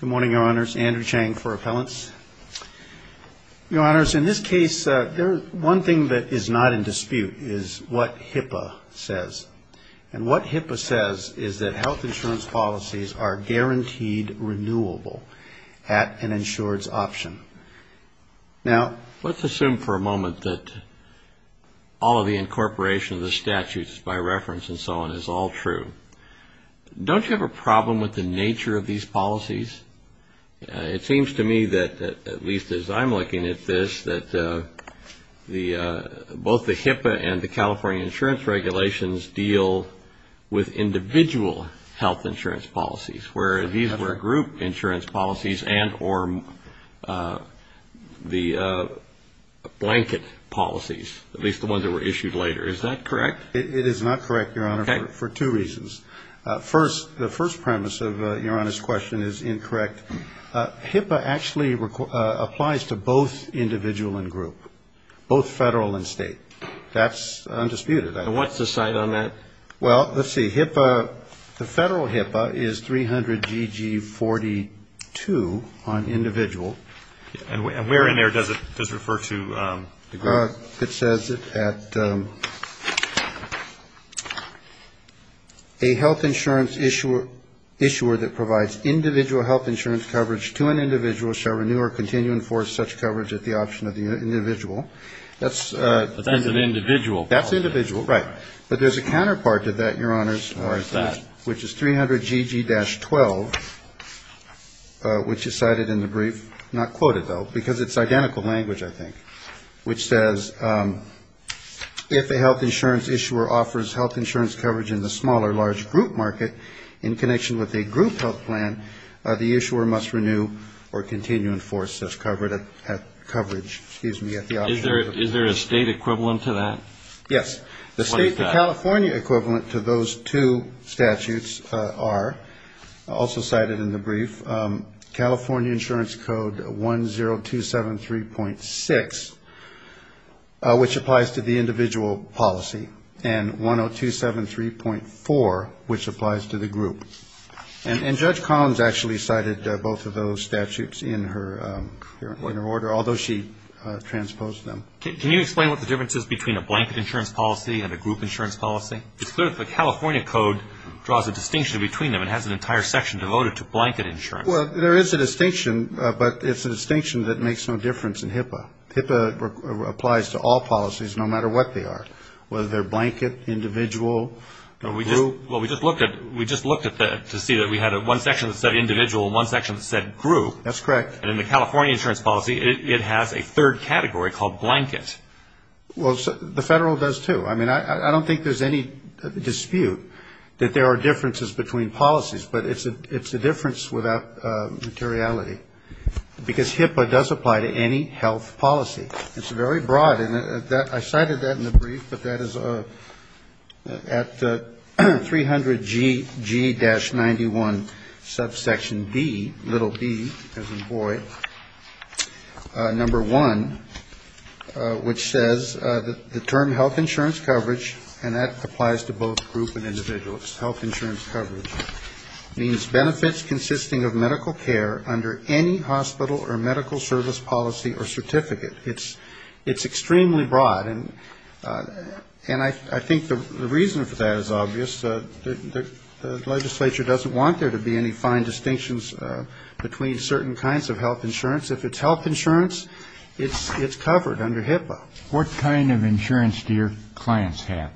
Good morning, Your Honors. Andrew Chang for Appellants. Your Honors, in this case, one thing that is not in dispute is what HIPAA says. And what HIPAA says is that health insurance policies are guaranteed renewable at an insurance option. Now, let's assume for a moment that all of the incorporation of the statutes by reference and so on is all true. Don't you have a problem with the nature of these policies? It seems to me that, at least as I'm looking at this, that both the HIPAA and the California insurance regulations deal with individual health insurance policies, where these were group insurance policies and or the blanket policies, at least the ones that were issued later. Is that correct? It is not correct, Your Honor, for two reasons. First, the first premise of Your Honor's question is incorrect. HIPAA actually applies to both individual and group, both federal and state. That's undisputed. And what's the site on that? Well, let's see. HIPAA, the federal HIPAA is 300GG42 on individual. And where in there does it refer to? It says that a health insurance issuer that provides individual health insurance coverage to an individual shall renew or continue to enforce such coverage at the option of the individual. But that's an individual policy. That's individual, right. But there's a counterpart to that, Your Honor, which is 300GG-12, which is cited in the brief. Not quoted, though, because it's identical language, I think, which says if a health insurance issuer offers health insurance coverage in the small or large group market in connection with a group health plan, the issuer must renew or continue to enforce such coverage at the option. Is there a state equivalent to that? Yes. The California equivalent to those two statutes are also cited in the brief. California Insurance Code 10273.6, which applies to the individual policy, and 10273.4, which applies to the group. And Judge Collins actually cited both of those statutes in her order, although she transposed them. Can you explain what the difference is between a blanket insurance policy and a group insurance policy? It's clear that the California Code draws a distinction between them. It has an entire section devoted to blanket insurance. Well, there is a distinction, but it's a distinction that makes no difference in HIPAA. HIPAA applies to all policies, no matter what they are, whether they're blanket, individual, group. Well, we just looked at that to see that we had one section that said individual and one section that said group. That's correct. And in the California insurance policy, it has a third category called blanket. Well, the Federal does, too. I mean, I don't think there's any dispute that there are differences between policies, but it's a difference without materiality, because HIPAA does apply to any health policy. It's very broad. And I cited that in the brief, but that is at 300G-91, subsection B, little b as in boy, number one, which says the term health insurance coverage, and that applies to both group and individual, health insurance coverage, means benefits consisting of medical care under any hospital or medical service policy or certificate. It's extremely broad. And I think the reason for that is obvious. The legislature doesn't want there to be any fine distinctions between certain kinds of health insurance. If it's health insurance, it's covered under HIPAA. What kind of insurance do your clients have?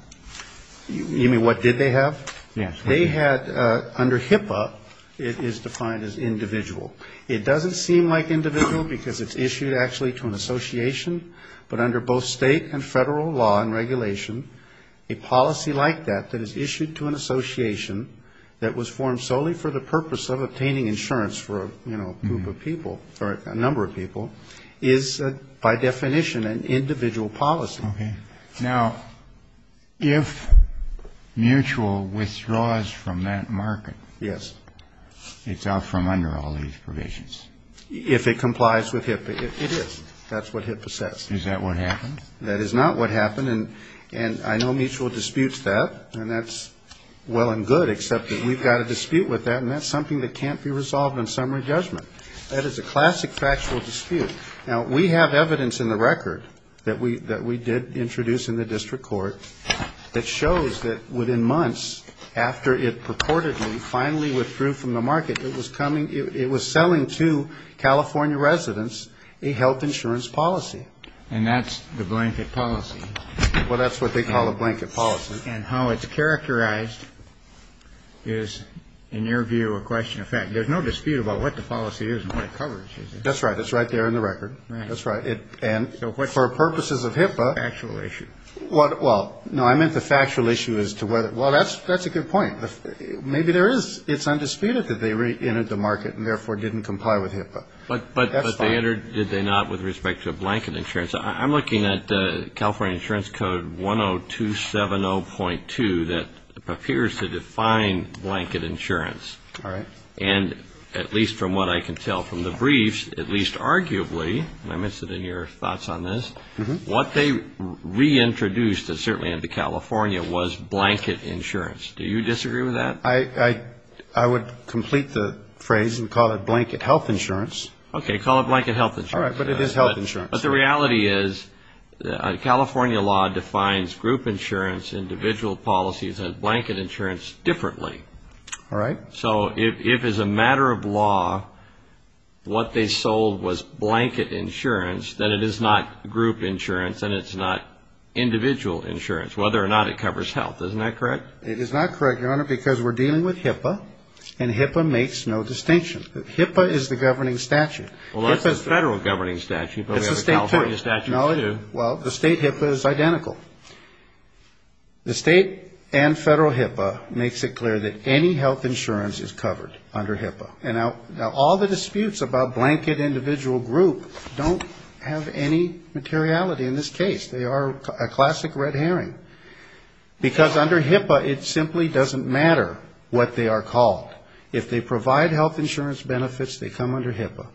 You mean what did they have? Yes. They had, under HIPAA, it is defined as individual. It doesn't seem like individual because it's issued actually to an association, but under both state and federal law and regulation, a policy like that that is issued to an association that was formed solely for the purpose of obtaining insurance for, you know, a group of people, or a number of people, is by definition an individual policy. Okay. Now, if Mutual withdraws from that market. Yes. It's out from under all these provisions. If it complies with HIPAA, it is. That's what HIPAA says. Is that what happened? That is not what happened. And I know Mutual disputes that, and that's well and good, except that we've got a dispute with that, and that's something that can't be resolved in summary judgment. That is a classic factual dispute. Now, we have evidence in the record that we did introduce in the district court that shows that within months after it purportedly finally withdrew from the market, it was coming, it was selling to California residents a health insurance policy. And that's the blanket policy. Well, that's what they call a blanket policy. And how it's characterized is, in your view, a question of fact. There's no dispute about what the policy is and what it covers, is there? That's right. It's right there in the record. Right. That's right. And for purposes of HIPAA. Factual issue. Well, no, I meant the factual issue as to whether. Well, that's a good point. Maybe there is. It's undisputed that they reentered the market and therefore didn't comply with HIPAA. That's fine. Where did they not with respect to blanket insurance? I'm looking at California Insurance Code 10270.2 that appears to define blanket insurance. All right. And at least from what I can tell from the briefs, at least arguably, and I'm interested in your thoughts on this, what they reintroduced certainly into California was blanket insurance. Do you disagree with that? I would complete the phrase and call it blanket health insurance. Okay. Call it blanket health insurance. All right. But it is health insurance. But the reality is California law defines group insurance, individual policies, and blanket insurance differently. All right. So if as a matter of law what they sold was blanket insurance, then it is not group insurance and it's not individual insurance, whether or not it covers health. Isn't that correct? It is not correct, Your Honor, because we're dealing with HIPAA and HIPAA makes no distinction. HIPAA is the governing statute. Well, that's the federal governing statute, but we have a California statute. Well, the state HIPAA is identical. The state and federal HIPAA makes it clear that any health insurance is covered under HIPAA. Now, all the disputes about blanket individual group don't have any materiality in this case. They are a classic red herring. Because under HIPAA, it simply doesn't matter what they are called. If they provide health insurance benefits, they come under HIPAA.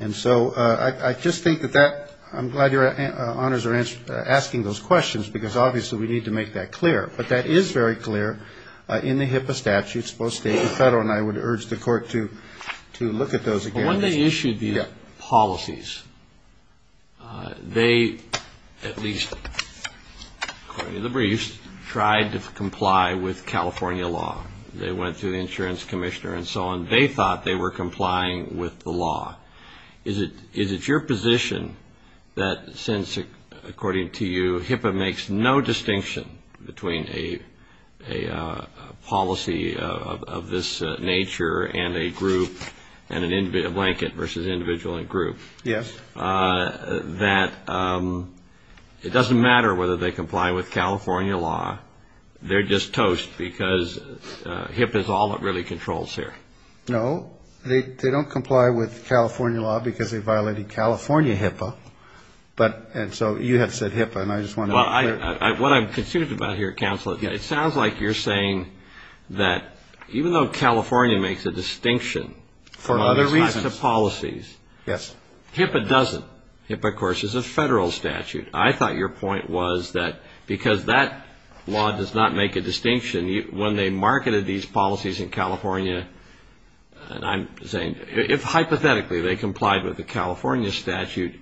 And so I just think that that, I'm glad Your Honors are asking those questions, because obviously we need to make that clear. But that is very clear in the HIPAA statutes, both state and federal, and I would urge the court to look at those again. When they issued these policies, they at least, according to the briefs, tried to comply with California law. They went to the insurance commissioner and so on. They thought they were complying with the law. Is it your position that since, according to you, HIPAA makes no distinction between a policy of this nature and a group and a blanket versus individual and group. Yes. That it doesn't matter whether they comply with California law. They're just toast, because HIPAA is all that really controls here. No. They don't comply with California law because they violated California HIPAA. And so you have said HIPAA, and I just want to make it clear. What I'm concerned about here, Counselor, it sounds like you're saying that even though California makes a distinction for other reasons to policies, HIPAA doesn't. HIPAA, of course, is a federal statute. I thought your point was that because that law does not make a distinction, when they marketed these policies in California, and I'm saying, if hypothetically they complied with the California statute,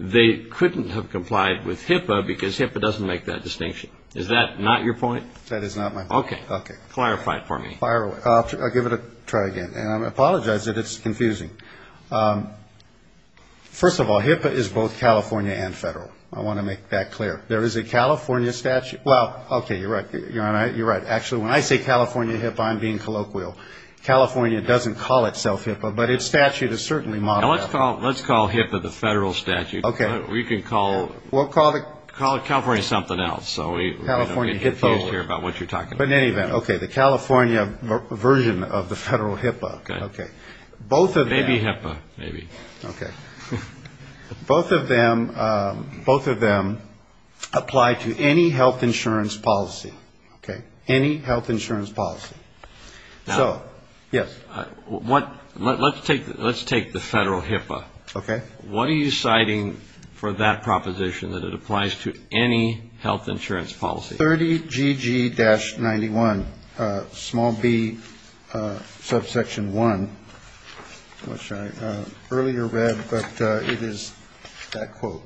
they couldn't have complied with HIPAA because HIPAA doesn't make that distinction. Is that not your point? That is not my point. Okay. Clarify it for me. I'll give it a try again. And I apologize that it's confusing. First of all, HIPAA is both California and federal. I want to make that clear. There is a California statute. Well, okay, you're right. You're right. Actually, when I say California HIPAA, I'm being colloquial. California doesn't call itself HIPAA, but its statute is certainly modeled after it. Let's call HIPAA the federal statute. Okay. We can call California something else. So we don't get confused here about what you're talking about. But in any event, okay, the California version of the federal HIPAA. Okay. Maybe HIPAA, maybe. Okay. Both of them apply to any health insurance policy. Okay. Any health insurance policy. So, yes. Let's take the federal HIPAA. Okay. What are you citing for that proposition that it applies to any health insurance policy? It's 30GG-91, small b, subsection one, which I earlier read, but it is that quote.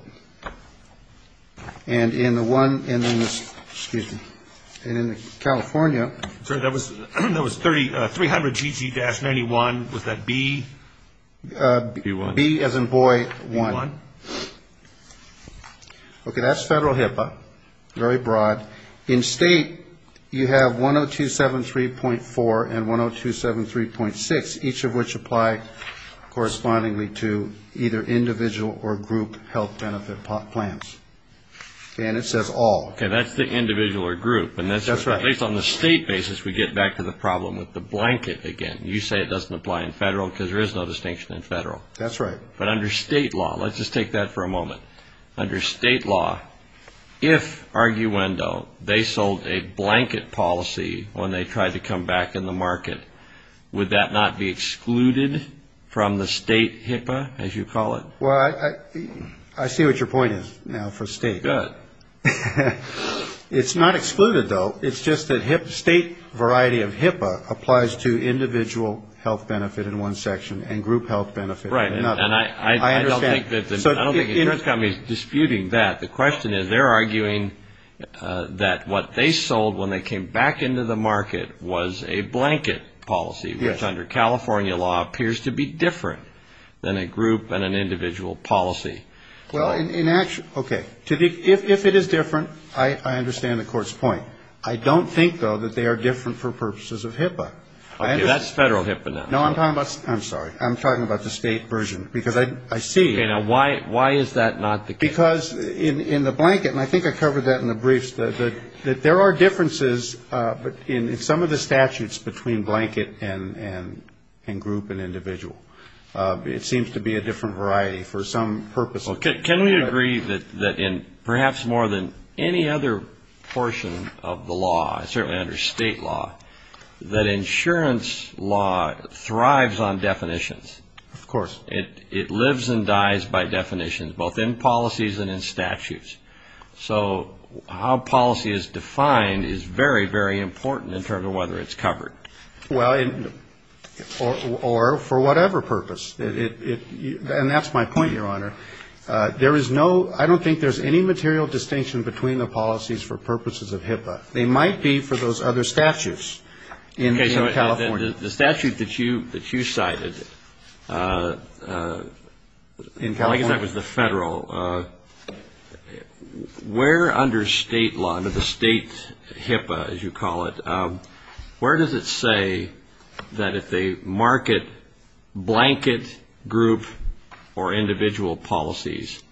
And in the one in this, excuse me, in California. Sir, that was 300GG-91. Was that b? B as in boy one. Okay. That's federal HIPAA, very broad. In state, you have 10273.4 and 10273.6, each of which apply correspondingly to either individual or group health benefit plans. And it says all. Okay. That's the individual or group. That's right. At least on the state basis, we get back to the problem with the blanket again. You say it doesn't apply in federal because there is no distinction in federal. But under state law, let's just take that for a moment. Under state law, if, arguendo, they sold a blanket policy when they tried to come back in the market, would that not be excluded from the state HIPAA, as you call it? Well, I see what your point is now for state. Good. It's not excluded, though. It's just that state variety of HIPAA applies to individual health benefit in one section and group health benefit in another. Right. And I don't think the insurance company is disputing that. The question is they're arguing that what they sold when they came back into the market was a blanket policy, which under California law appears to be different than a group and an individual policy. Well, in actuality, okay. If it is different, I understand the Court's point. I don't think, though, that they are different for purposes of HIPAA. Okay. That's federal HIPAA now. No, I'm talking about the state version. Because I see that. Okay. Now, why is that not the case? Because in the blanket, and I think I covered that in the briefs, that there are differences in some of the statutes between blanket and group and individual. It seems to be a different variety for some purposes. Can we agree that in perhaps more than any other portion of the law, certainly under state law, that insurance law thrives on definitions? Of course. It lives and dies by definitions, both in policies and in statutes. So how policy is defined is very, very important in terms of whether it's covered. Well, or for whatever purpose. And that's my point, Your Honor. There is no ‑‑ I don't think there's any material distinction between the policies for purposes of HIPAA. They might be for those other statutes in California. The statute that you cited, I guess that was the federal, where under state law, under the state HIPAA, as you call it, where does it say that if they market blanket, group, or individual policies,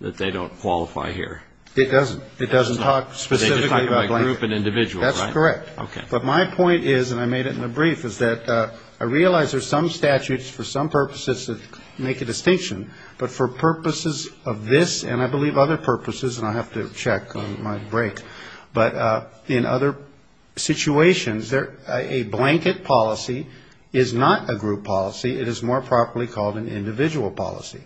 that they don't qualify here? It doesn't. It doesn't talk specifically about blanket. They just talk about group and individual, right? That's correct. Okay. But my point is, and I made it in the brief, is that I realize there's some statutes for some purposes that make a distinction. But for purposes of this, and I believe other purposes, and I'll have to check on my break, but in other situations, a blanket policy is not a group policy. It is more properly called an individual policy.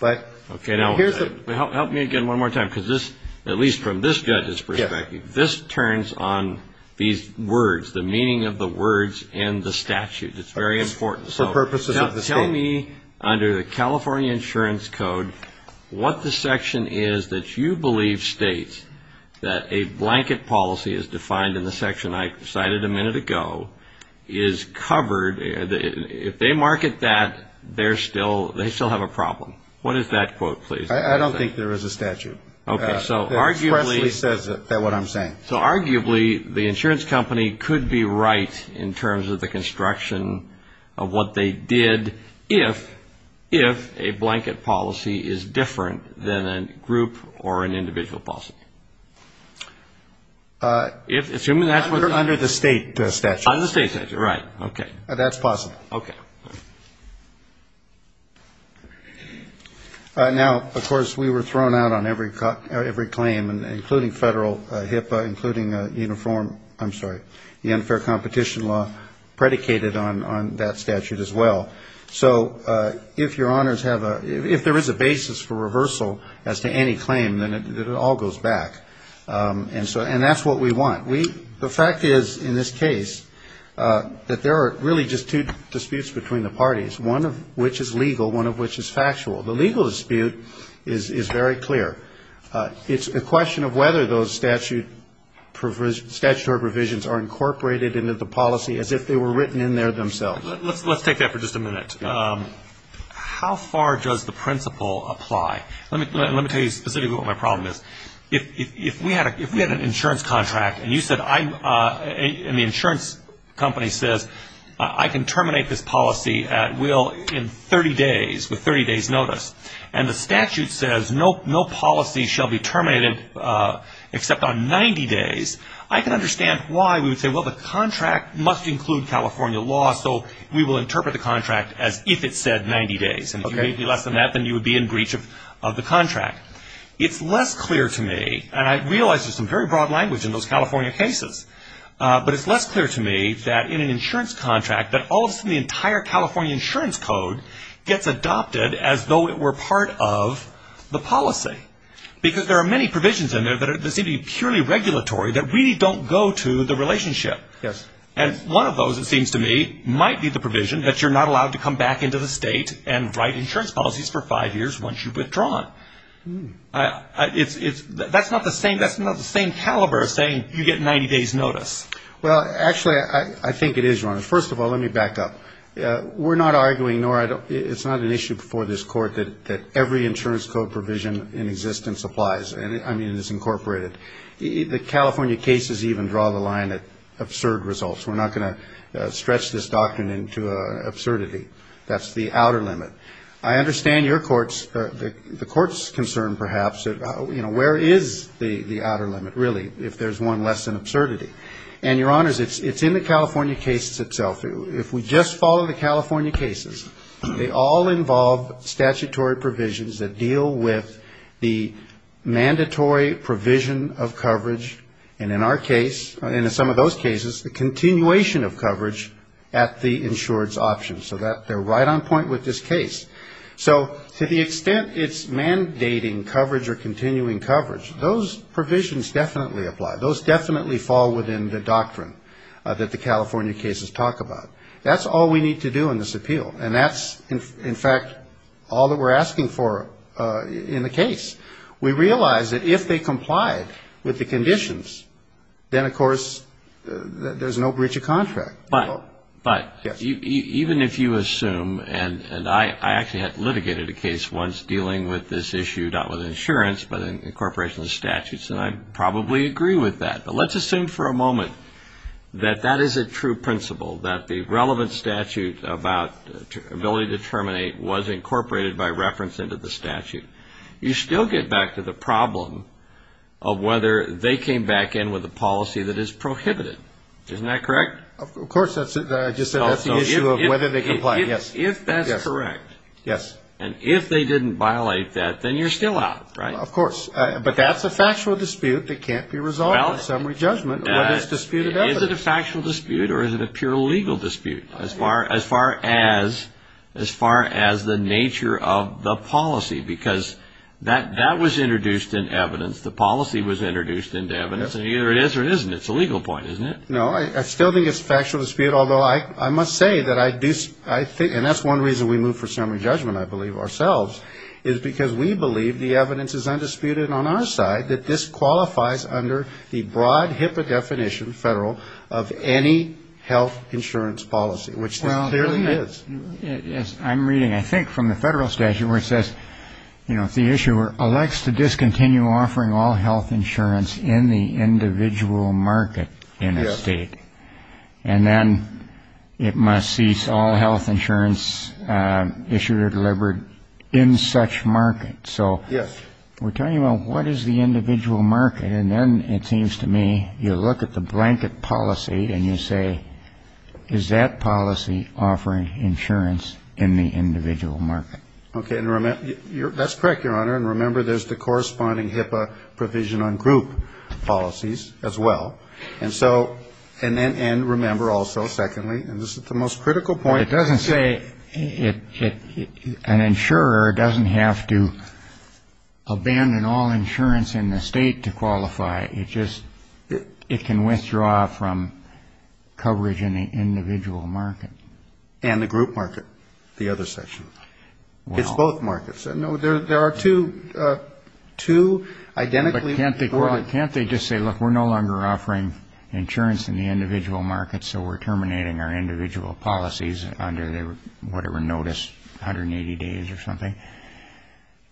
But here's the ‑‑ Okay. Now, help me again one more time, because this, at least from this judge's perspective, this turns on these words, the meaning of the words in the statute. It's very important. For purposes of the state. Now, tell me, under the California Insurance Code, what the section is that you believe states that a blanket policy as defined in the section I cited a minute ago is covered, if they market that, they still have a problem. What is that quote, please? I don't think there is a statute. Okay. That expressly says what I'm saying. So arguably the insurance company could be right in terms of the construction of what they did if a blanket policy is different than a group or an individual policy. Assuming that's what ‑‑ Under the state statute. Under the state statute. Right. Okay. That's possible. Okay. Now, of course, we were thrown out on every claim, including federal HIPAA, including uniform, I'm sorry, the unfair competition law predicated on that statute as well. So if your honors have a ‑‑ if there is a basis for reversal as to any claim, then it all goes back. And that's what we want. The fact is, in this case, that there are really just two disputes between the parties, one of which is legal, one of which is factual. The legal dispute is very clear. It's a question of whether those statutory provisions are incorporated into the policy as if they were written in there themselves. Let's take that for just a minute. How far does the principle apply? Let me tell you specifically what my problem is. If we had an insurance contract and you said I'm ‑‑ and the insurance company says, I can terminate this policy at will in 30 days, with 30 days' notice, and the statute says no policy shall be terminated except on 90 days, I can understand why we would say, well, the contract must include California law, so we will interpret the contract as if it said 90 days. If it would be less than that, then you would be in breach of the contract. It's less clear to me, and I realize there's some very broad language in those California cases, but it's less clear to me that in an insurance contract that all of a sudden the entire California insurance code gets adopted as though it were part of the policy because there are many provisions in there that seem to be purely regulatory that really don't go to the relationship. And one of those, it seems to me, might be the provision that you're not allowed to come back into the state and write insurance policies for five years once you've withdrawn. That's not the same caliber as saying you get 90 days' notice. Well, actually, I think it is, Your Honor. First of all, let me back up. We're not arguing, nor it's not an issue before this court, that every insurance code provision in existence applies, I mean, is incorporated. The California cases even draw the line at absurd results. We're not going to stretch this doctrine into absurdity. That's the outer limit. I understand your court's, the court's concern, perhaps, you know, where is the outer limit, really, if there's one less than absurdity. And, Your Honors, it's in the California cases itself. If we just follow the California cases, they all involve statutory provisions that deal with the mandatory provision of coverage, and in our case, and in some of those cases, the continuation of coverage at the insurance option. So they're right on point with this case. So to the extent it's mandating coverage or continuing coverage, those provisions definitely apply. Those definitely fall within the doctrine that the California cases talk about. That's all we need to do in this appeal, and that's, in fact, all that we're asking for in the case. We realize that if they complied with the conditions, then, of course, there's no breach of contract. But even if you assume, and I actually had litigated a case once dealing with this issue, not with insurance, but in incorporation of statutes, and I probably agree with that, but let's assume for a moment that that is a true principle, that the relevant statute about ability to terminate was incorporated by reference into the statute. You still get back to the problem of whether they came back in with a policy that is prohibited. Isn't that correct? Of course. I just said that's the issue of whether they complied. Yes. If that's correct. Yes. And if they didn't violate that, then you're still out, right? Of course. But that's a factual dispute that can't be resolved by summary judgment, whether it's disputed evidence. Is it a factual dispute or is it a pure legal dispute as far as the nature of the policy? Because that was introduced in evidence. The policy was introduced into evidence. And either it is or it isn't, it's a legal point, isn't it? No. I still think it's a factual dispute, although I must say that I do think, and that's one reason we move for summary judgment, I believe, ourselves, is because we believe the evidence is undisputed on our side that this qualifies under the broad HIPAA definition, federal, of any health insurance policy, which this clearly is. Yes. I'm reading, I think, from the federal statute where it says, you know, The issuer elects to discontinue offering all health insurance in the individual market in a state. And then it must cease all health insurance issued or delivered in such market. So we're talking about what is the individual market. And then it seems to me you look at the blanket policy and you say, is that policy offering insurance in the individual market? Okay. That's correct, Your Honor. And remember there's the corresponding HIPAA provision on group policies as well. And so, and remember also, secondly, and this is the most critical point. It doesn't say an insurer doesn't have to abandon all insurance in the state to qualify. It just, it can withdraw from coverage in the individual market. And the group market, the other section. Well. It's both markets. No, there are two identically. But can't they just say, look, we're no longer offering insurance in the individual market, so we're terminating our individual policies under whatever notice, 180 days or something.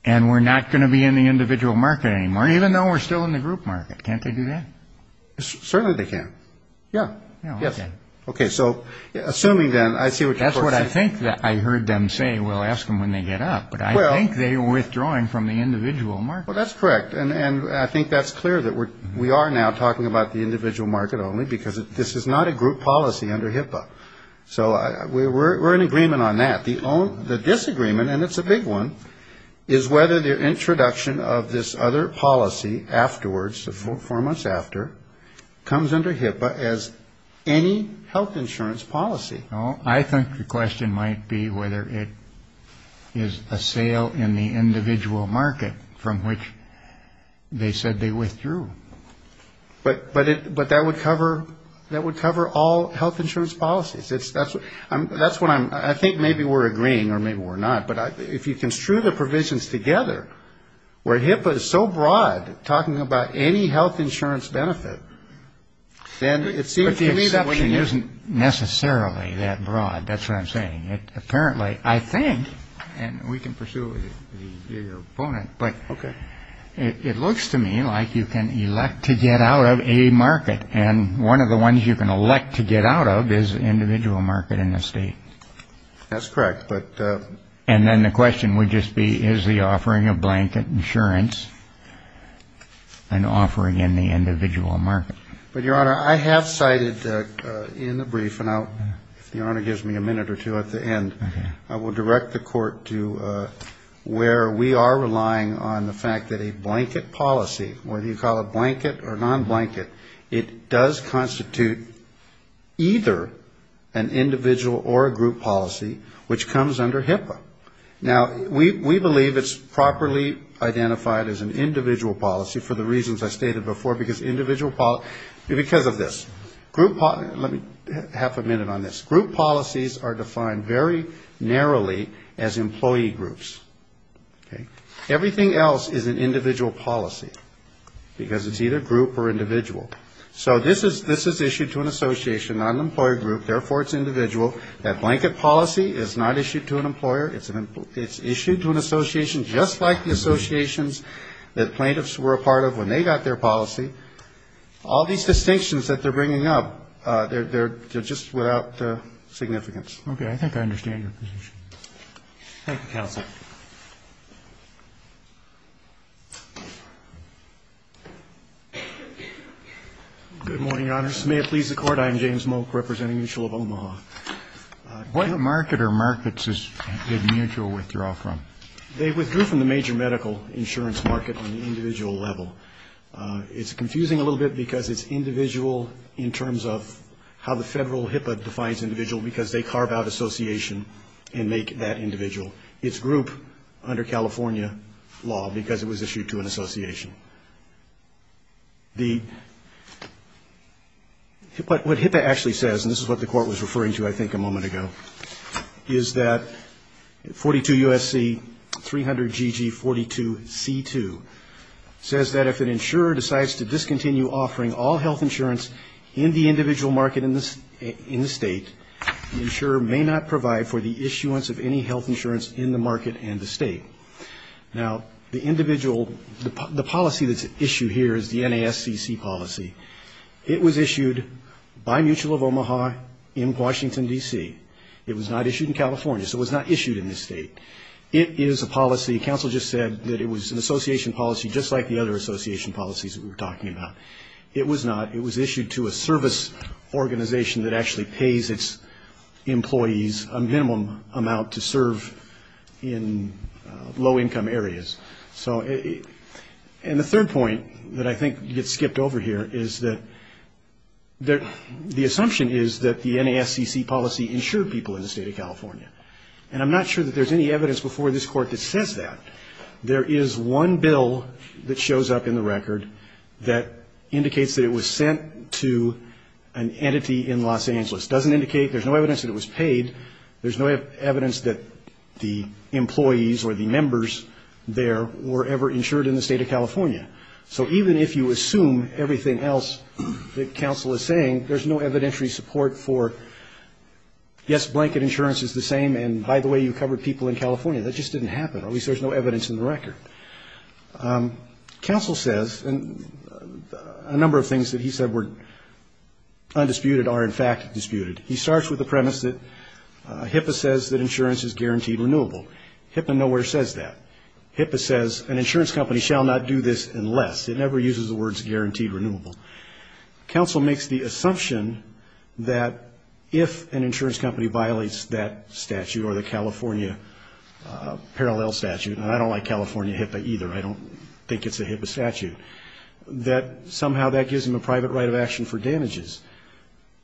And we're not going to be in the individual market anymore, even though we're still in the group market. Can't they do that? Certainly they can. Yeah. Yes. Okay. So assuming then, I see what you're saying. I think that I heard them say, well, ask them when they get up. But I think they're withdrawing from the individual market. Well, that's correct. And I think that's clear that we are now talking about the individual market only, because this is not a group policy under HIPAA. So we're in agreement on that. The disagreement, and it's a big one, is whether the introduction of this other policy afterwards, four months after, comes under HIPAA as any health insurance policy. Well, I think the question might be whether it is a sale in the individual market from which they said they withdrew. But that would cover all health insurance policies. That's what I'm – I think maybe we're agreeing, or maybe we're not, but if you construe the provisions together, where HIPAA is so broad, talking about any health insurance benefit, then it seems to me that would be – Well, it isn't necessarily that broad. That's what I'm saying. Apparently, I think, and we can pursue it with your opponent, but it looks to me like you can elect to get out of a market. And one of the ones you can elect to get out of is the individual market in the state. That's correct. And then the question would just be, is the offering of blanket insurance an offering in the individual market? But, Your Honor, I have cited in the brief, and if the Honor gives me a minute or two at the end, I will direct the Court to where we are relying on the fact that a blanket policy, whether you call it blanket or non-blanket, it does constitute either an individual or a group policy which comes under HIPAA. Now, we believe it's properly identified as an individual policy for the reasons I stated before, because of this. Let me have a minute on this. Group policies are defined very narrowly as employee groups. Everything else is an individual policy because it's either group or individual. So this is issued to an association, not an employer group. Therefore, it's individual. That blanket policy is not issued to an employer. It's issued to an association just like the associations that plaintiffs were a part of when they got their policy. All these distinctions that they're bringing up, they're just without significance. Okay. I think I understand your position. Thank you, Counsel. Good morning, Your Honors. May it please the Court, I am James Moke, representing Mutual of Omaha. What market or markets did Mutual withdraw from? They withdrew from the major medical insurance market on the individual level. It's confusing a little bit because it's individual in terms of how the federal HIPAA defines individual, because they carve out association and make that individual. It's group under California law because it was issued to an association. What HIPAA actually says, and this is what the Court was referring to, I think, a moment ago, is that 42 U.S.C. 300GG42C2 says that if an insurer decides to discontinue offering all health insurance in the individual market in the state, the insurer may not provide for the issuance of any health insurance in the market and the state. Now, the policy that's issued here is the NASCC policy. It was issued by Mutual of Omaha in Washington, D.C. It was not issued in California, so it was not issued in this state. It is a policy. Counsel just said that it was an association policy just like the other association policies that we were talking about. It was not. low-income areas. And the third point that I think gets skipped over here is that the assumption is that the NASCC policy insured people in the state of California. And I'm not sure that there's any evidence before this Court that says that. There is one bill that shows up in the record that indicates that it was sent to an entity in Los Angeles. It doesn't indicate there's no evidence that it was paid. There's no evidence that the employees or the members there were ever insured in the state of California. So even if you assume everything else that counsel is saying, there's no evidentiary support for, yes, blanket insurance is the same, and by the way, you covered people in California. That just didn't happen. At least there's no evidence in the record. Counsel says, and a number of things that he said were undisputed are, in fact, disputed. He starts with the premise that HIPAA says that insurance is guaranteed renewable. HIPAA nowhere says that. HIPAA says an insurance company shall not do this unless. It never uses the words guaranteed renewable. Counsel makes the assumption that if an insurance company violates that statute or the California parallel statute, and I don't like California HIPAA either, I don't think it's a HIPAA statute, that somehow that gives them a private right of action for damages.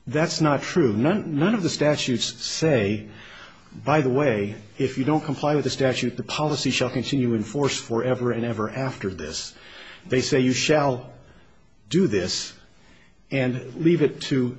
That's not true. None of the statutes say, by the way, if you don't comply with the statute, the policy shall continue in force forever and ever after this. They say you shall do this and leave it to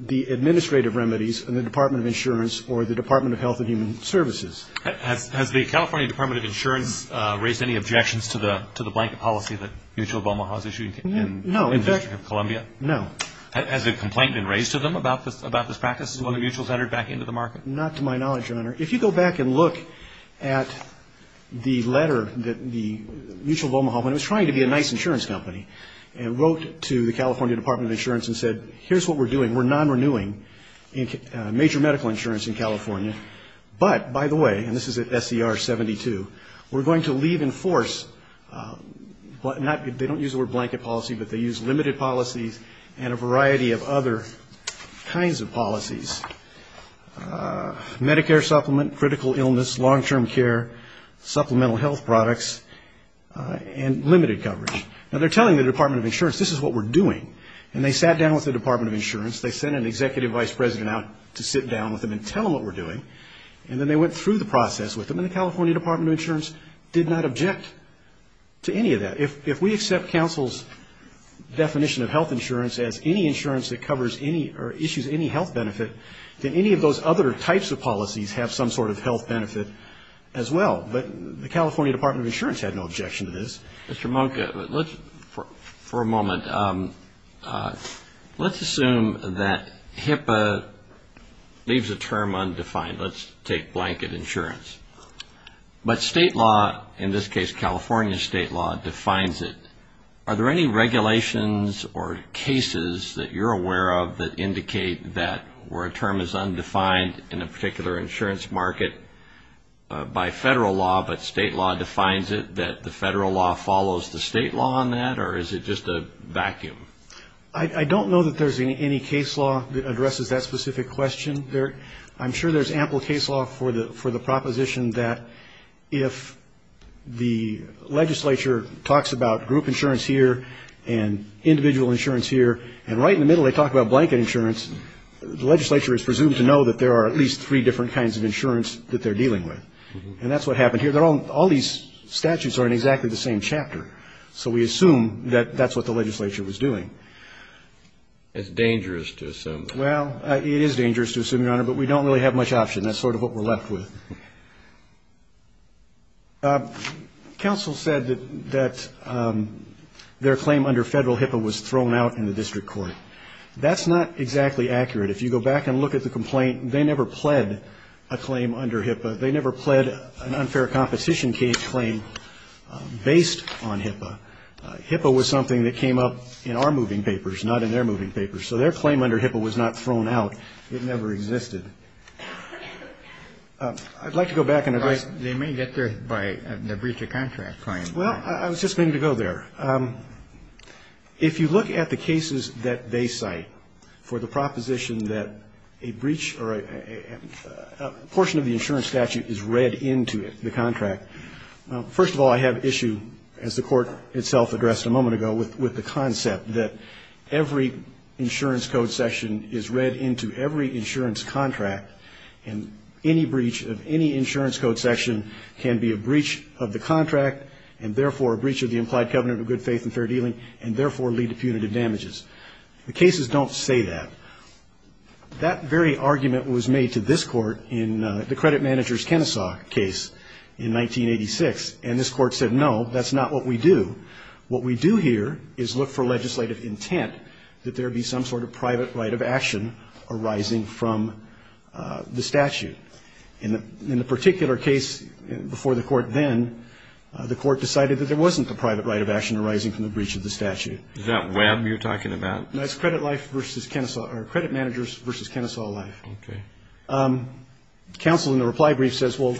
the administrative remedies and the Department of Insurance or the Department of Health and Human Services. Has the California Department of Insurance raised any objections to the blanket policy that Mitch Obama has issued in the District of Columbia? No. Has a complaint been raised to them about this practice and whether Mutual has entered back into the market? Not to my knowledge, Your Honor. If you go back and look at the letter that Mutual of Omaha, when it was trying to be a nice insurance company, and wrote to the California Department of Insurance and said, here's what we're doing, we're non-renewing major medical insurance in California, but by the way, and this is at SCR 72, we're going to leave in force, they don't use the word blanket policy, but they use limited policies and a variety of other kinds of policies, Medicare supplement, critical illness, long-term care, supplemental health products, and limited coverage. Now, they're telling the Department of Insurance, this is what we're doing, and they sat down with the Department of Insurance, they sent an executive vice president out to sit down with them and tell them what we're doing, and then they went through the process with them, and the California Department of Insurance did not object to any of that. If we accept counsel's definition of health insurance as any insurance that covers any or issues any health benefit, then any of those other types of policies have some sort of health benefit as well. But the California Department of Insurance had no objection to this. Mr. Monca, for a moment, let's assume that HIPAA leaves a term undefined. Let's take blanket insurance. But state law, in this case California state law, defines it. Are there any regulations or cases that you're aware of that indicate that where a term is undefined in a particular insurance market by federal law, but state law defines it, that the federal law follows the state law on that, or is it just a vacuum? I don't know that there's any case law that addresses that specific question. I'm sure there's ample case law for the proposition that if the legislature talks about group insurance here and individual insurance here, and right in the middle they talk about blanket insurance, the legislature is presumed to know that there are at least three different kinds of insurance that they're dealing with. And that's what happened here. All these statutes are in exactly the same chapter. So we assume that that's what the legislature was doing. It's dangerous to assume. Well, it is dangerous to assume, Your Honor, but we don't really have much option. That's sort of what we're left with. Counsel said that their claim under federal HIPAA was thrown out in the district court. That's not exactly accurate. If you go back and look at the complaint, they never pled a claim under HIPAA. They never pled an unfair competition claim based on HIPAA. HIPAA was something that came up in our moving papers, not in their moving papers. So their claim under HIPAA was not thrown out. It never existed. I'd like to go back and address the question. They may get there by the breach of contract claim. Well, I was just going to go there. If you look at the cases that they cite for the proposition that a breach or a portion of the insurance statute is read into the contract, first of all, I have issue, as the Court itself addressed a moment ago, with the concept that every insurance code section is read into every insurance contract, and any breach of any insurance code section can be a breach of the contract and, therefore, a breach of the implied covenant of good faith and fair dealing and, therefore, lead to punitive damages. The cases don't say that. That very argument was made to this Court in the credit manager's Kenesaw case in 1986, and this Court said, no, that's not what we do. What we do here is look for legislative intent that there be some sort of private right of action arising from the statute. In the particular case before the Court then, the Court decided that there wasn't a private right of action arising from the breach of the statute. Is that Webb you're talking about? No, it's credit life versus Kenesaw or credit managers versus Kenesaw life. Okay. Counsel in the reply brief says, well,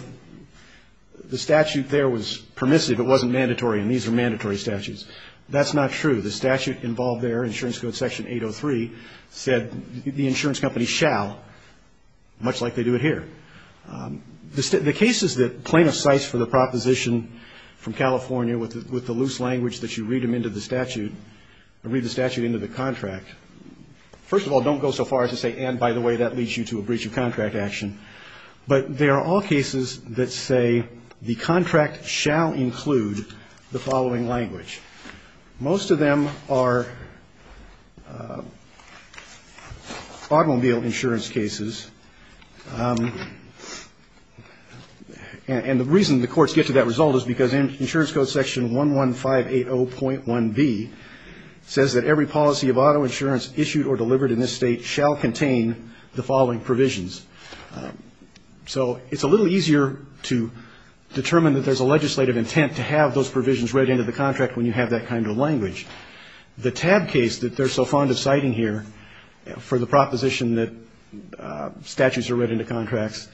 the statute there was permissive. It wasn't mandatory, and these are mandatory statutes. That's not true. The statute involved there, insurance code section 803, said the insurance company shall, much like they do it here. The cases that plaintiff cites for the proposition from California with the loose language that you read them into the statute, or read the statute into the contract, first of all, don't go so far as to say, and by the way, that leads you to a breach of contract action. But there are all cases that say the contract shall include the following language. Most of them are automobile insurance cases, and the reason the courts get to that result is because insurance code section 11580.1B says that every policy of auto insurance issued or delivered in this State shall contain the following provisions. So it's a little easier to determine that there's a legislative intent to have those provisions read into the contract when you have that kind of language. The TAB case that they're so fond of citing here for the proposition that statutes are read into contracts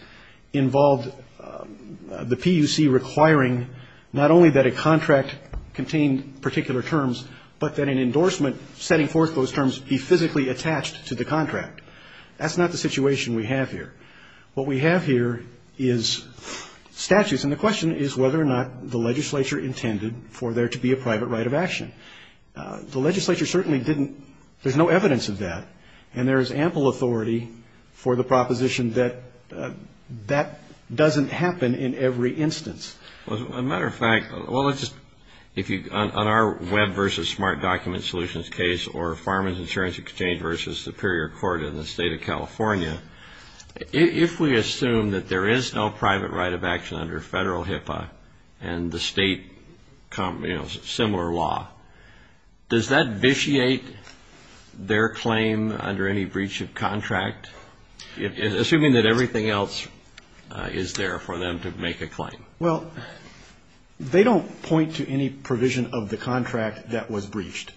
involved the PUC requiring not only that a contract contain particular terms, but that an endorsement setting forth those terms be physically attached to the contract. That's not the situation we have here. What we have here is statutes, and the question is whether or not the legislature intended for there to be a private right of action. The legislature certainly didn't, there's no evidence of that, and there is ample authority for the proposition that that doesn't happen in every instance. As a matter of fact, well, let's just, if you, on our web versus smart document solutions case or Farmers Insurance Exchange versus Superior Court in the State of California, if we assume that there is no private right of action under Federal HIPAA and the State, you know, similar law, does that vitiate their claim under any breach of contract, assuming that everything else is there for them to make a claim? Well, they don't point to any provision of the contract that was breached.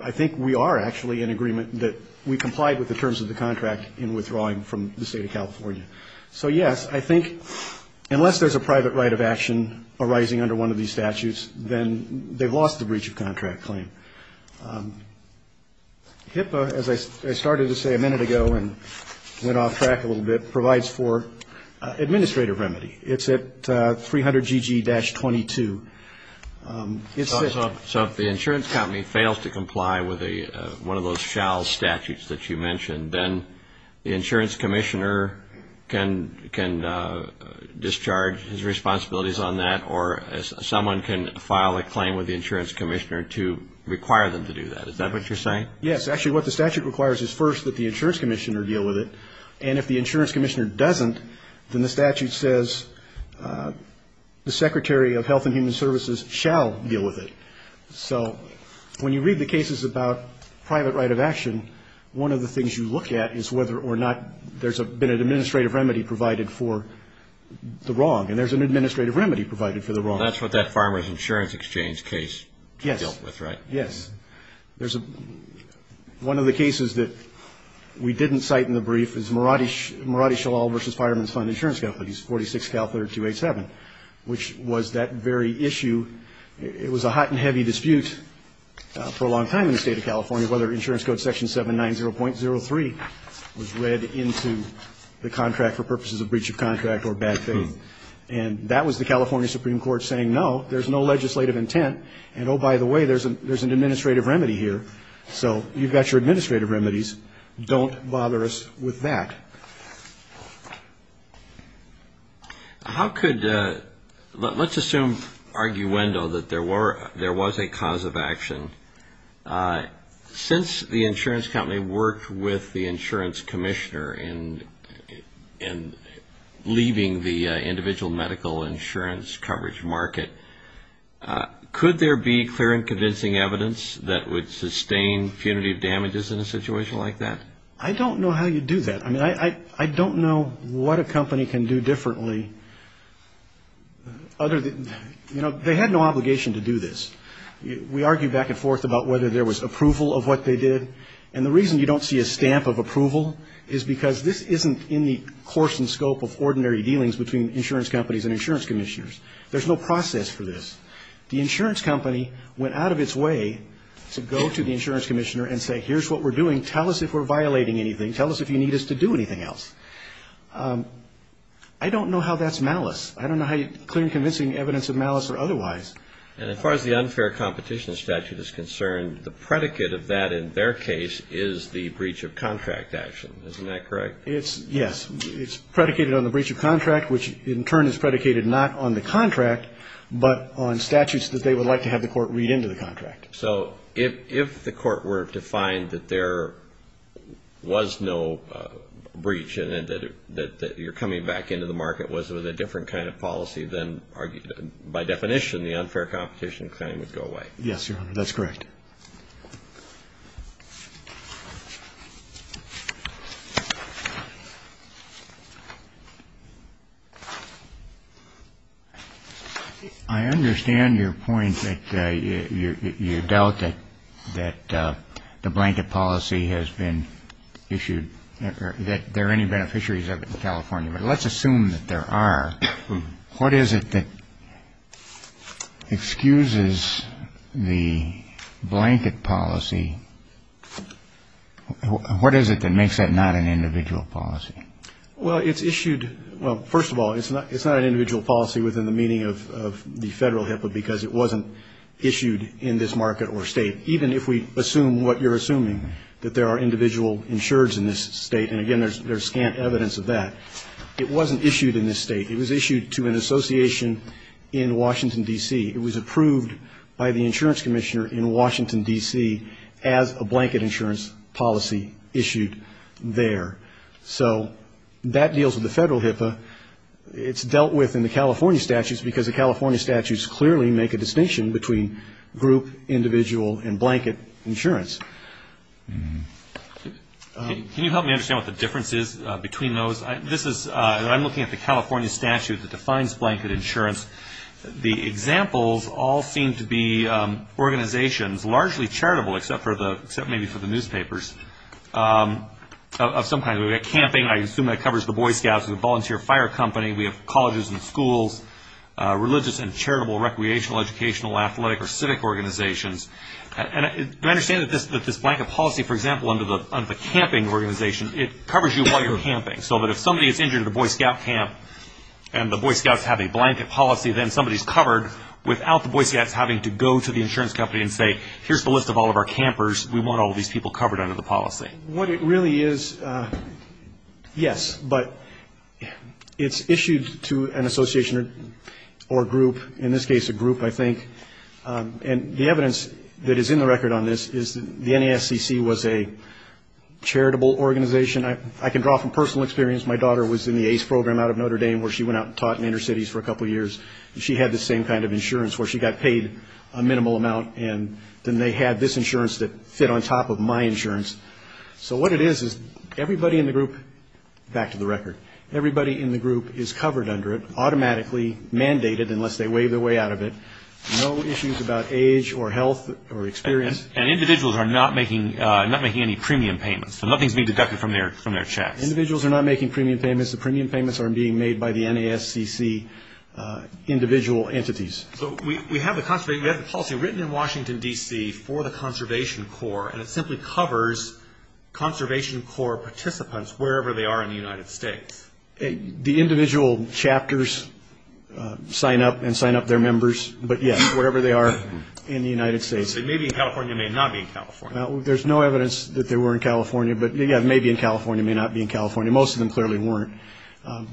I think we are actually in agreement that we complied with the terms of the contract in withdrawing from the State of California. So, yes, I think unless there's a private right of action arising under one of these statutes, then they've lost the breach of contract claim. HIPAA, as I started to say a minute ago and went off track a little bit, provides for administrative remedy. It's at 300GG-22. So if the insurance company fails to comply with one of those shall statutes that you mentioned, then the insurance commissioner can discharge his responsibilities on that or someone can file a claim with the insurance commissioner to require them to do that. Is that what you're saying? Yes. Actually, what the statute requires is first that the insurance commissioner deal with it. And if the insurance commissioner doesn't, then the statute says the Secretary of Health and Human Services shall deal with it. So when you read the cases about private right of action, one of the things you look at is whether or not there's been an administrative remedy provided for the wrong. And there's an administrative remedy provided for the wrong. Well, that's what that Farmer's Insurance Exchange case dealt with, right? Yes. There's a one of the cases that we didn't cite in the brief is Maradi Shalal v. Fireman's Fund Insurance Companies, 46 Calif. 287, which was that very issue. It was a hot and heavy dispute for a long time in the State of California, whether insurance code section 790.03 was read into the contract for purposes of breach of contract or bad faith. And that was the California Supreme Court saying, no, there's no legislative intent. And, oh, by the way, there's an administrative remedy here. So you've got your administrative remedies. Don't bother us with that. How could let's assume arguendo that there were there was a cause of action. Since the insurance company worked with the insurance commissioner in leaving the individual medical insurance coverage market, could there be clear and convincing evidence that would sustain punitive damages in a situation like that? I don't know how you do that. I mean, I don't know what a company can do differently. You know, they had no obligation to do this. We argue back and forth about whether there was approval of what they did. And the reason you don't see a stamp of approval is because this isn't in the course and scope of ordinary dealings between insurance companies and insurance commissioners. There's no process for this. The insurance company went out of its way to go to the insurance commissioner and say, here's what we're doing. Tell us if we're violating anything. Tell us if you need us to do anything else. I don't know how that's malice. I don't know how you clear convincing evidence of malice or otherwise. And as far as the unfair competition statute is concerned, the predicate of that in their case is the breach of contract action. Isn't that correct? It's yes. It's predicated on the breach of contract, which in turn is predicated not on the contract, but on statutes that they would like to have the court read into the contract. So if the court were to find that there was no breach and that you're coming back into the market was with a different kind of policy than argued by definition, the unfair competition claim would go away. Yes, Your Honor, that's correct. I understand your point that you doubt that the blanket policy has been issued, that there are any beneficiaries of it in California, but let's assume that there are. What is it that excuses the blanket policy? What is it that makes that not an individual policy? Well, it's issued, well, first of all, it's not an individual policy within the meaning of the federal HIPAA, because it wasn't issued in this market or state, even if we assume what you're assuming, that there are individual insureds in this state. It was issued to an association in Washington, D.C. It was approved by the insurance commissioner in Washington, D.C., as a blanket insurance policy issued there. So that deals with the federal HIPAA. It's dealt with in the California statutes, because the California statutes clearly make a distinction between group, individual, and blanket insurance. Can you help me understand what the difference is between those? I'm looking at the California statute that defines blanket insurance. The examples all seem to be organizations, largely charitable, except maybe for the newspapers, of some kind. We have camping, I assume that covers the Boy Scouts, the volunteer fire company. We have colleges and schools, religious and charitable, recreational, educational, athletic or civic organizations. And do I understand that this blanket policy, for example, under the camping organization, it covers you while you're camping, so that if somebody gets injured at a Boy Scout camp and the Boy Scouts have a blanket policy, then somebody's covered without the Boy Scouts having to go to the insurance company and say, here's the list of all of our campers, we want all these people covered under the policy. What it really is, yes, but it's issued to an association or group, in this case a group, I think. And the evidence that is in the record on this is the NASCC was a charitable organization. I can draw from personal experience. My daughter was in the ACE program out of Notre Dame, where she went out and taught in inner cities for a couple years, and she had the same kind of insurance, where she got paid a minimal amount, and then they had this insurance that fit on top of my insurance. So what it is, is everybody in the group, back to the record, everybody in the group is covered under it, automatically mandated, unless they wave their way out of it, no issues about age or health or experience. And individuals are not making any premium payments, so nothing's being deducted from their checks. Individuals are not making premium payments. The premium payments are being made by the NASCC individual entities. So we have the policy written in Washington, D.C., for the Conservation Corps, and it simply covers Conservation Corps participants wherever they are in the United States. The individual chapters sign up and sign up their members, but yes, wherever they are in the United States. It may be in California. It may not be in California. There's no evidence that they were in California, but, yeah, it may be in California. It may not be in California. Most of them clearly weren't.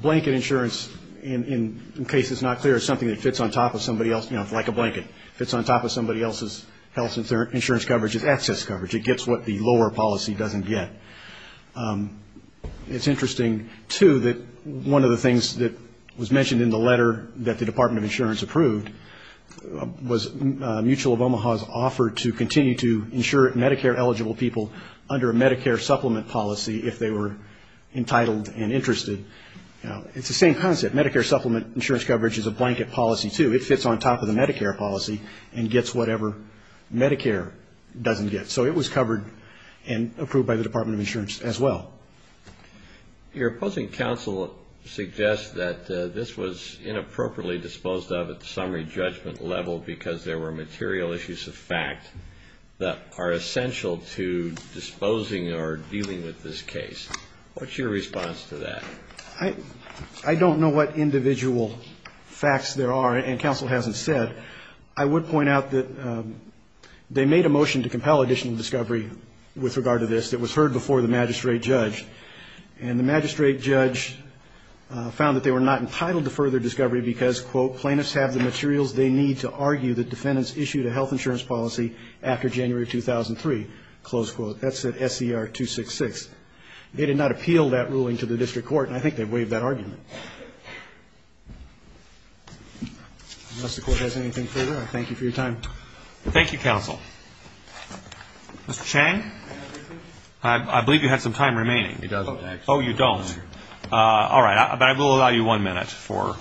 Blanket insurance, in case it's not clear, is something that fits on top of somebody else, you know, like a blanket, fits on top of somebody else's health insurance coverage as access coverage. It gets what the lower policy doesn't get. It's interesting, too, that one of the things that was mentioned in the letter that the Department of Insurance approved was Mutual of Omaha's offer to continue to insure Medicare-eligible people under a Medicare supplement policy if they were entitled and interested. It's the same concept. Medicare supplement insurance coverage is a blanket policy, too. It fits on top of the Medicare policy and gets whatever Medicare doesn't get. So it was covered and approved by the Department of Insurance as well. Your opposing counsel suggests that this was inappropriately disposed of at the summary judgment level because there were material issues of fact that are essential to disposing or dealing with this case. What's your response to that? I don't know what individual facts there are, and counsel hasn't said. I would point out that they made a motion to compel additional discovery with regard to this that was heard before the magistrate judge, and the magistrate judge found that they were not entitled to further discovery because, quote, plaintiffs have the materials they need to argue that defendants issued a health insurance policy after January 2003, close quote. That's at SCR 266. They did not appeal that ruling to the district court, and I think they waived that argument. Unless the court has anything further, I thank you for your time. Thank you, counsel. Mr. Chang? I believe you had some time remaining. He doesn't, actually. Oh, you don't. All right. But I will allow you one minute for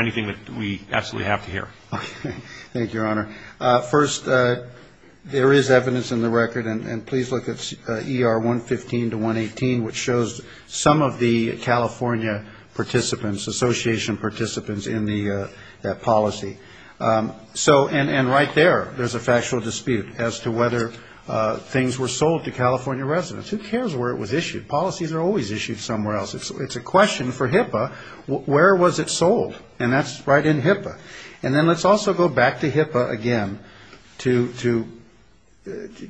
anything that we absolutely have to hear. Okay. Thank you, Your Honor. First, there is evidence in the record, and please look at ER 115 to 118, which shows some of the California participants, association participants in that policy. So, and right there, there's a factual dispute as to whether things were sold to California residents. Who cares where it was issued? Policies are always issued somewhere else. It's a question for HIPAA, where was it sold? And that's right in HIPAA. And then let's also go back to HIPAA again to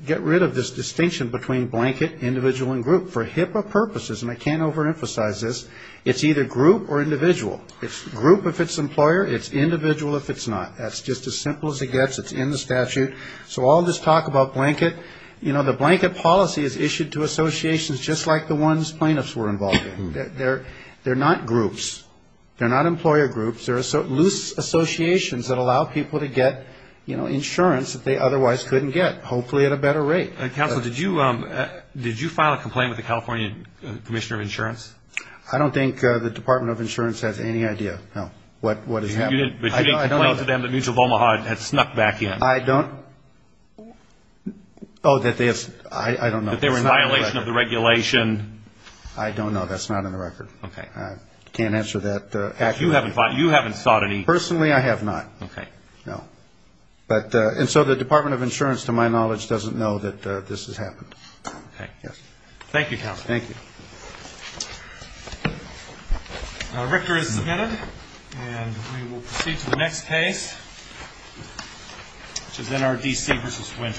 get rid of this distinction between blanket, individual, and group. For HIPAA purposes, and I can't overemphasize this, it's either group or individual. It's group if it's employer. It's individual if it's not. That's just as simple as it gets. It's in the statute. So I'll just talk about blanket. You know, the blanket policy is issued to associations just like the ones plaintiffs were involved in. They're not groups. They're not employer groups. They're loose associations that allow people to get, you know, insurance that they otherwise couldn't get, hopefully at a better rate. Counsel, did you file a complaint with the California Commissioner of Insurance? I don't think the Department of Insurance has any idea, no, what has happened. But you did complain to them that Mutual of Omaha had snuck back in. I don't. Oh, that they have, I don't know. That there was a violation of the regulation. I don't know. That's not on the record. Okay. I can't answer that accurately. You haven't sought any. Personally, I have not. Okay. No. Okay. Yes. Thank you, Counsel. Thank you. Now, Richter is submitted, and we will proceed to the next case, which is NRDC v. Winter.